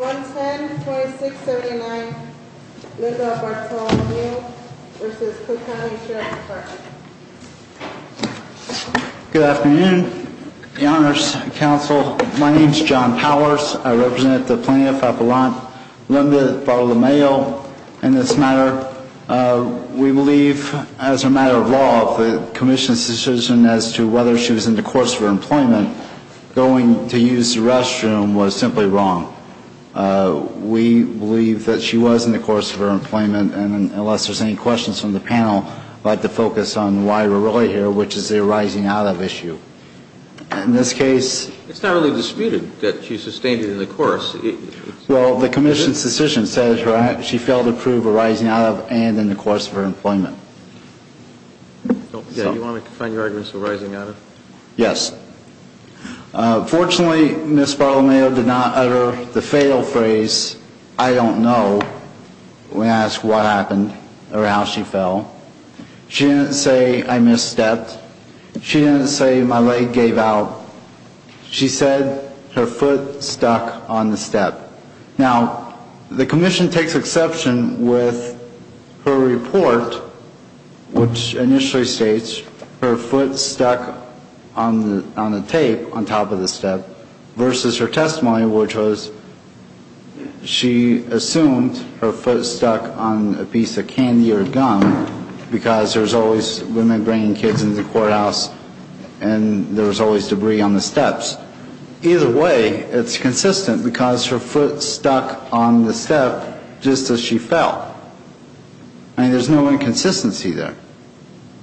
110-2679 Linda Bartolomeo v. Cook County Sheriff's Department Good afternoon, the Honors Council. My name is John Powers. I represent the Plaintiff, Apollon Linda Bartolomeo. In this matter, we believe, as a matter of law, the Commission's decision as to whether she was in the course of her employment going to use the restroom was simply wrong. We believe that she was in the course of her employment. And unless there's any questions from the panel, I'd like to focus on why we're really here, which is a rising out of issue. In this case, it's not really disputed that she sustained it in the course. Well, the Commission's decision says she failed to prove a rising out of and in the course of her employment. Yeah, you want me to find your arguments for rising out of? Yes. Fortunately, Ms. Bartolomeo did not utter the fatal phrase, I don't know, when asked what happened or how she fell. She didn't say I misstepped. She didn't say my leg gave out. She said her foot stuck on the step. Now, the Commission takes exception with her report, which initially states her foot stuck on the tape on top of the step, versus her testimony, which was she assumed her foot stuck on a piece of candy or gum, because there's always women bringing kids into the courthouse and there's always debris on the steps. Either way, it's consistent because her foot stuck on the step just as she fell. I mean, there's no inconsistency there.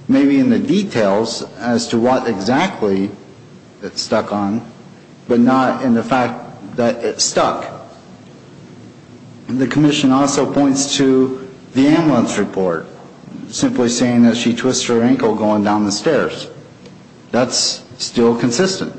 Maybe in the details as to what exactly it stuck on, but not in the fact that it stuck. The Commission also points to the ambulance report, simply saying that she twisted her ankle going down the stairs. That's still consistent.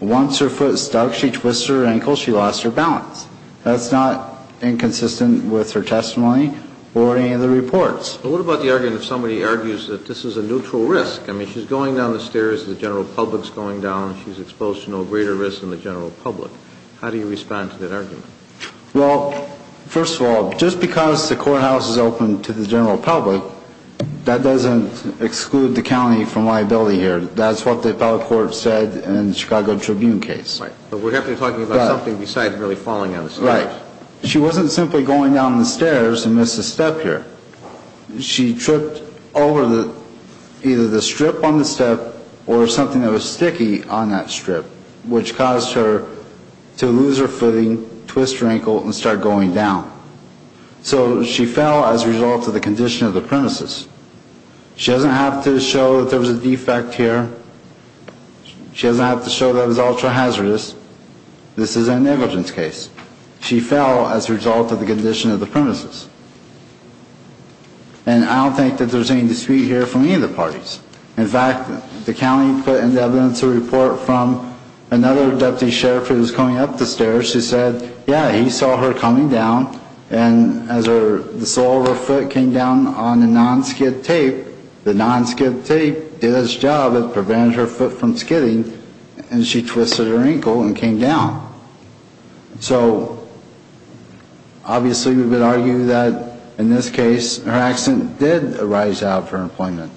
Once her foot stuck, she twisted her ankle, she lost her balance. That's not inconsistent with her testimony or any of the reports. But what about the argument if somebody argues that this is a neutral risk? I mean, she's going down the stairs, the general public's going down, she's exposed to no greater risk than the general public. How do you respond to that argument? Well, first of all, just because the courthouse is open to the general public, that doesn't exclude the county from liability here. That's what the appellate court said in the Chicago Tribune case. But we're talking about something besides really falling down the stairs. Right. She wasn't simply going down the stairs and missed a step here. She tripped over either the strip on the step or something that was sticky on that strip, which caused her to lose her footing, twist her ankle, and start going down. So she fell as a result of the condition of the premises. She doesn't have to show that there was a defect here. She doesn't have to show that it was ultra-hazardous. This is an negligence case. She fell as a result of the condition of the premises. And I don't think that there's any dispute here from any of the parties. In fact, the county put into evidence a report from another deputy sheriff who was going up the stairs where she said, yeah, he saw her coming down. And as the sole of her foot came down on the non-skid tape, the non-skid tape did its job of preventing her foot from skidding, and she twisted her ankle and came down. So obviously we would argue that in this case her accident did arise out of her employment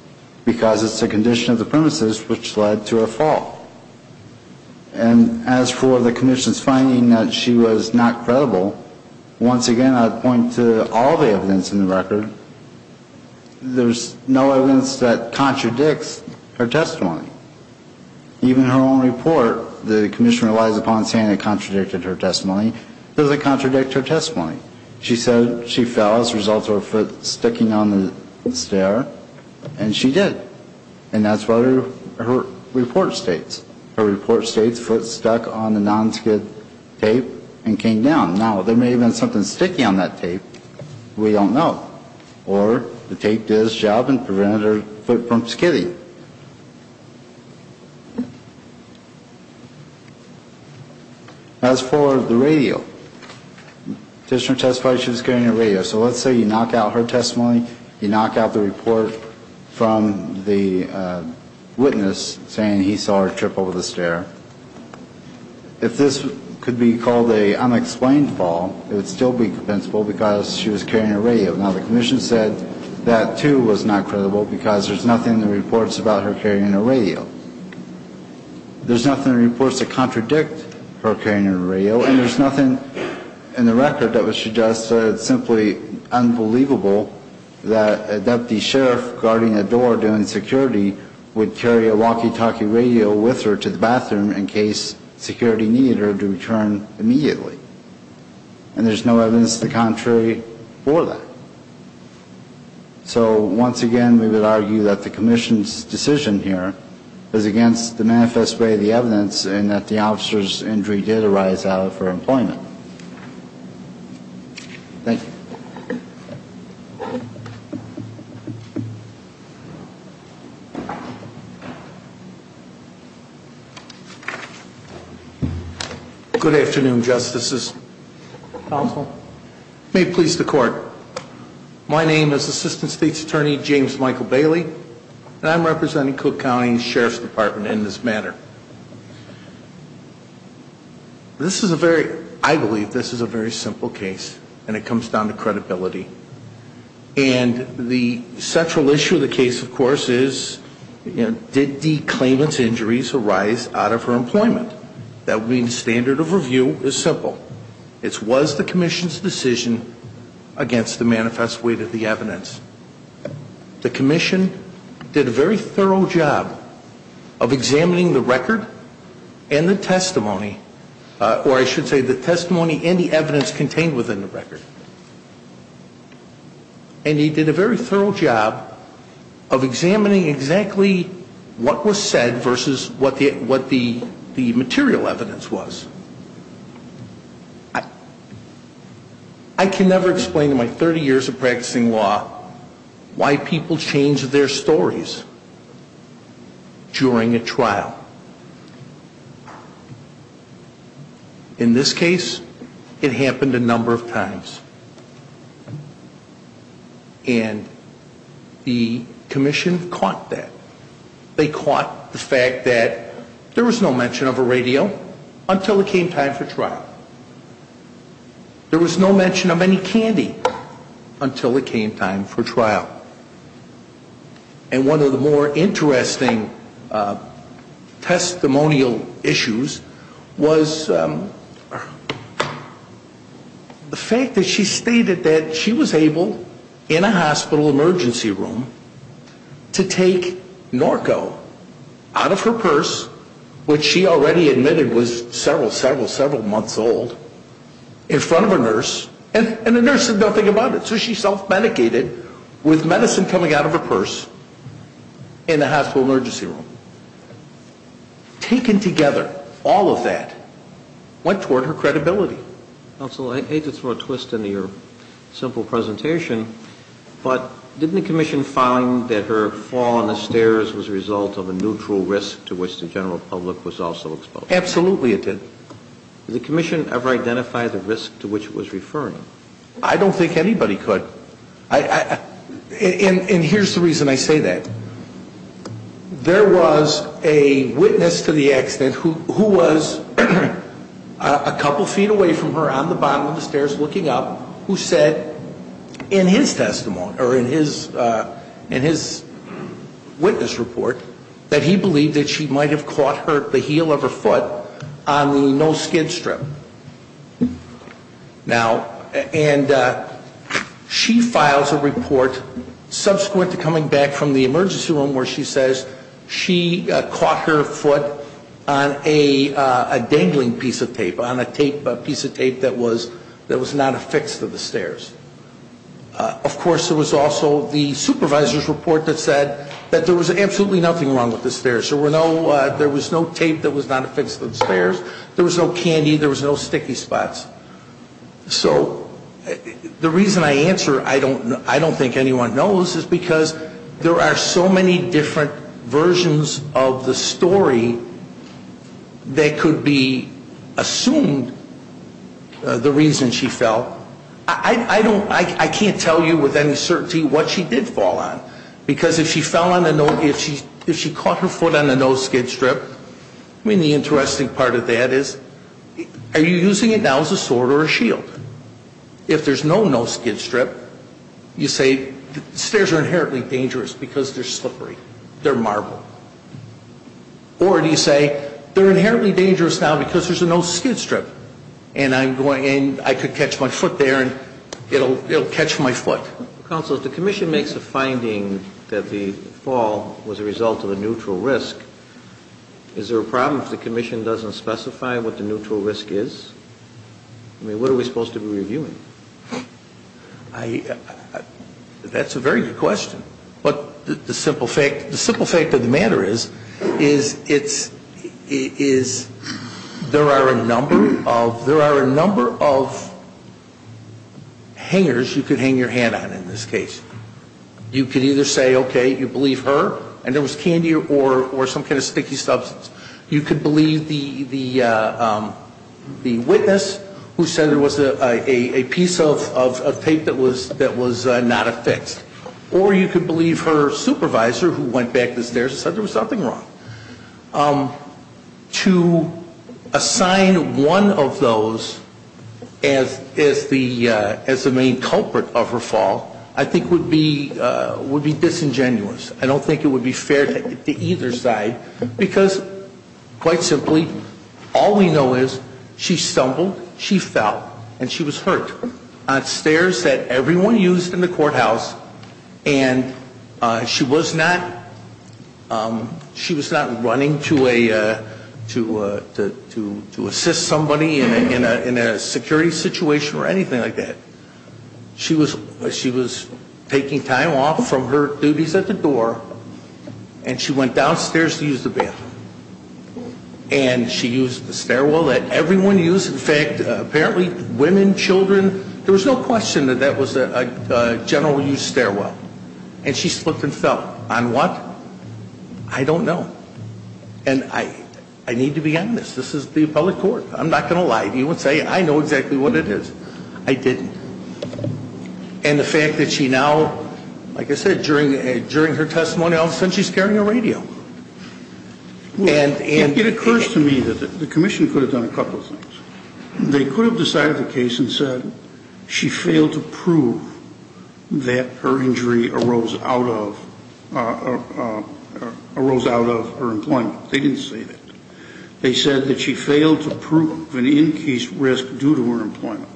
because it's the condition of the premises which led to her fall. And as for the commission's finding that she was not credible, once again I'd point to all the evidence in the record. There's no evidence that contradicts her testimony. Even her own report, the commission relies upon saying it contradicted her testimony. It doesn't contradict her testimony. She said she fell as a result of her foot sticking on the stair, and she did. And that's what her report states. Her report states foot stuck on the non-skid tape and came down. Now, there may have been something sticky on that tape. We don't know. Or the tape did its job in preventing her foot from skidding. As for the radio, the petitioner testified she was getting a radio. So let's say you knock out her testimony, you knock out the report from the witness saying he saw her trip over the stair. If this could be called an unexplained fall, it would still be compensable because she was carrying a radio. Now, the commission said that, too, was not credible because there's nothing in the reports about her carrying a radio. There's nothing in the reports that contradict her carrying a radio, and there's nothing in the record that would suggest that it's simply unbelievable that a deputy sheriff guarding a door doing security would carry a walkie-talkie radio with her to the bathroom in case security needed her to return immediately. And there's no evidence to the contrary for that. So, once again, we would argue that the commission's decision here is against the manifest way of the evidence and that the officer's injury did arise out of her employment. Thank you. Good afternoon, Justices. Counsel. May it please the Court. My name is Assistant State's Attorney James Michael Bailey, and I'm representing Cook County Sheriff's Department in this matter. This is a very, I believe this is a very simple case, and it comes down to credibility. And the central issue of the case, of course, is did the claimant's injuries arise out of her employment? That means standard of review is simple. It was the commission's decision against the manifest way of the evidence. The commission did a very thorough job of examining the record and the testimony, or I should say the testimony and the evidence contained within the record. And he did a very thorough job of examining exactly what was said versus what the material evidence was. I can never explain in my 30 years of practicing law why people change their stories during a trial. In this case, it happened a number of times. And the commission caught that. They caught the fact that there was no mention of a radio until it came time for trial. There was no mention of any candy until it came time for trial. And one of the more interesting testimonial issues was the fact that she stated that she was able, in a hospital emergency room, to take narco out of her purse, which she already admitted was several, several, several months old, in front of a nurse, and the nurse said nothing about it. So she self-medicated with medicine coming out of her purse in a hospital emergency room. Taken together, all of that went toward her credibility. Counsel, I hate to throw a twist into your simple presentation, but didn't the commission find that her fall on the stairs was a result of a neutral risk to which the general public was also exposed? Absolutely it did. Did the commission ever identify the risk to which it was referring? I don't think anybody could. And here's the reason I say that. There was a witness to the accident who was a couple feet away from her on the bottom of the stairs looking up who said in his testimony, or in his witness report, that he believed that she might have caught the heel of her foot on the no-skid strip. Now, and she files a report subsequent to coming back from the emergency room where she says she caught her foot on a dangling piece of tape, on a piece of tape that was not affixed to the stairs. Of course, there was also the supervisor's report that said that there was absolutely nothing wrong with the stairs. There was no tape that was not affixed to the stairs. There was no candy. There was no sticky spots. So the reason I answer I don't think anyone knows is because there are so many different versions of the story that could be assumed the reason she fell. I can't tell you with any certainty what she did fall on. Because if she fell on the no, if she caught her foot on the no-skid strip, I mean, the interesting part of that is, are you using it now as a sword or a shield? If there's no no-skid strip, you say the stairs are inherently dangerous because they're slippery. They're marble. Or do you say they're inherently dangerous now because there's a no-skid strip and I could catch my foot there and it'll catch my foot. Counsel, if the commission makes a finding that the fall was a result of a neutral risk, is there a problem if the commission doesn't specify what the neutral risk is? I mean, what are we supposed to be reviewing? That's a very good question. But the simple fact of the matter is there are a number of hangers you could hang your hand on in this case. You could either say, okay, you believe her and there was candy or some kind of sticky substance. You could believe the witness who said there was a piece of tape that was not affixed. Or you could believe her supervisor who went back the stairs and said there was something wrong. To assign one of those as the main culprit of her fall I think would be disingenuous. I don't think it would be fair to either side because quite simply all we know is she stumbled, she fell, and she was hurt on stairs that everyone used in the courthouse. And she was not running to assist somebody in a security situation or anything like that. She was taking time off from her duties at the door and she went downstairs to use the bathroom. And she used the stairwell that everyone used. In fact, apparently women, children, there was no question that that was a general use stairwell. And she slipped and fell. On what? I don't know. And I need to be honest. This is the appellate court. I'm not going to lie to you and say I know exactly what it is. I didn't. And the fact that she now, like I said, during her testimony all of a sudden she's carrying a radio. It occurs to me that the commission could have done a couple of things. They could have decided the case and said she failed to prove that her injury arose out of her employment. They didn't say that. They said that she failed to prove an increased risk due to her employment.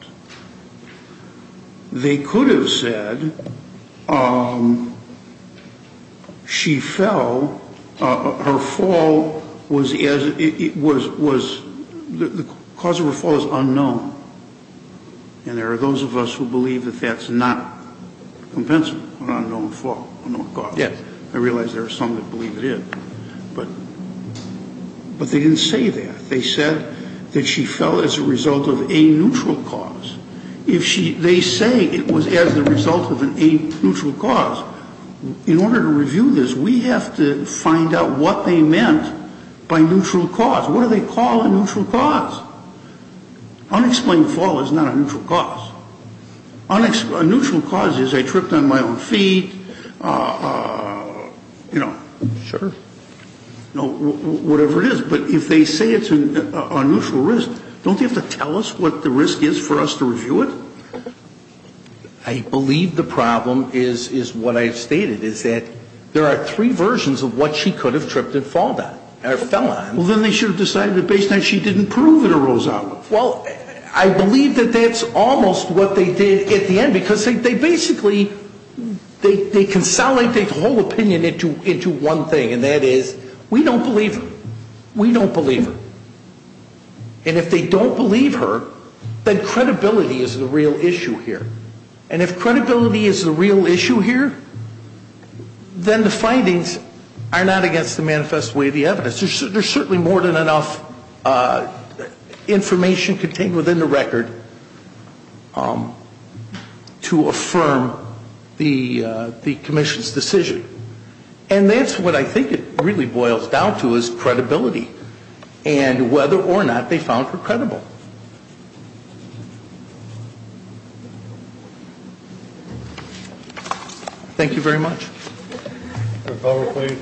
They could have said she fell, her fall was, the cause of her fall is unknown. And there are those of us who believe that that's not compensable, an unknown fall, an unknown cause. Yes, I realize there are some that believe it is. But they didn't say that. They said that she fell as a result of a neutral cause. They say it was as a result of a neutral cause. In order to review this, we have to find out what they meant by neutral cause. What do they call a neutral cause? Unexplained fall is not a neutral cause. A neutral cause is I tripped on my own feet, you know. Sure. Whatever it is. But if they say it's a neutral risk, don't they have to tell us what the risk is for us to review it? I believe the problem is what I stated, is that there are three versions of what she could have tripped and fell on. Well, then they should have decided that based on she didn't prove it arose out. Well, I believe that that's almost what they did at the end. Because they basically, they consolidate the whole opinion into one thing, and that is we don't believe her. We don't believe her. And if they don't believe her, then credibility is the real issue here. And if credibility is the real issue here, then the findings are not against the manifest way of the evidence. There's certainly more than enough information contained within the record to affirm the commission's decision. And that's what I think it really boils down to is credibility and whether or not they found her credible. Thank you very much. Governor, please.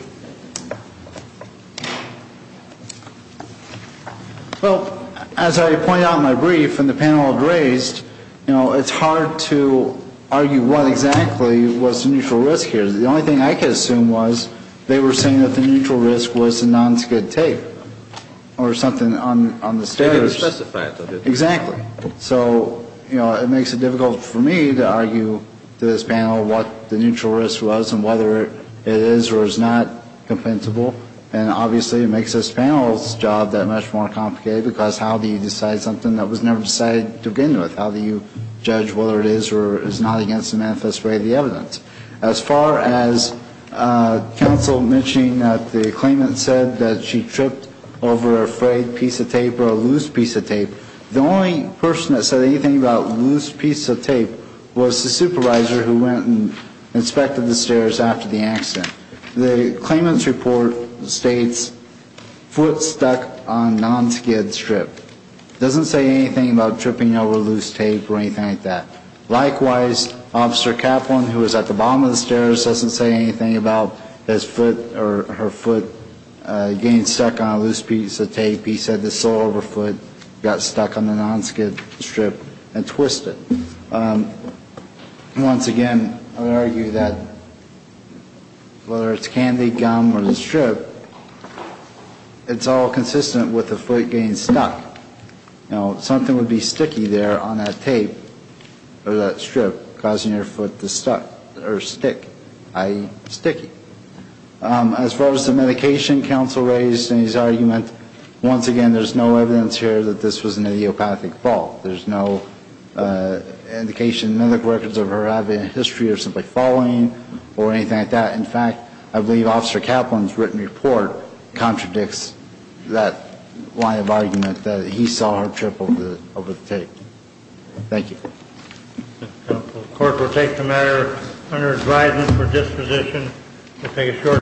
Well, as I pointed out in my brief and the panel had raised, you know, it's hard to argue what exactly was the neutral risk here. The only thing I could assume was they were saying that the neutral risk was the non-skid tape or something on the stairs. They didn't specify it, though, did they? Exactly. So, you know, it makes it difficult for me to argue to this panel what the neutral risk was and whether it is or is not compensable. And obviously it makes this panel's job that much more complicated because how do you decide something that was never decided to begin with? How do you judge whether it is or is not against the manifest way of the evidence? As far as counsel mentioning that the claimant said that she tripped over a frayed piece of tape or a loose piece of tape, the only person that said anything about loose piece of tape was the supervisor who went and inspected the stairs after the accident. The claimant's report states foot stuck on non-skid strip. It doesn't say anything about tripping over loose tape or anything like that. Likewise, Officer Kaplan, who was at the bottom of the stairs, doesn't say anything about his foot or her foot getting stuck on a loose piece of tape. He said the sole of her foot got stuck on the non-skid strip and twisted. Once again, I would argue that whether it's candy, gum, or the strip, it's all consistent with the foot getting stuck. You know, something would be sticky there on that tape or that strip, causing your foot to stick, i.e. sticky. As far as the medication counsel raised in his argument, once again, there's no evidence here that this was an idiopathic fault. There's no indication in medical records of her having a history of simply falling or anything like that. In fact, I believe Officer Kaplan's written report contradicts that line of argument that he saw her trip over the tape. Thank you. The court will take the matter under advisement for disposition to take a short break.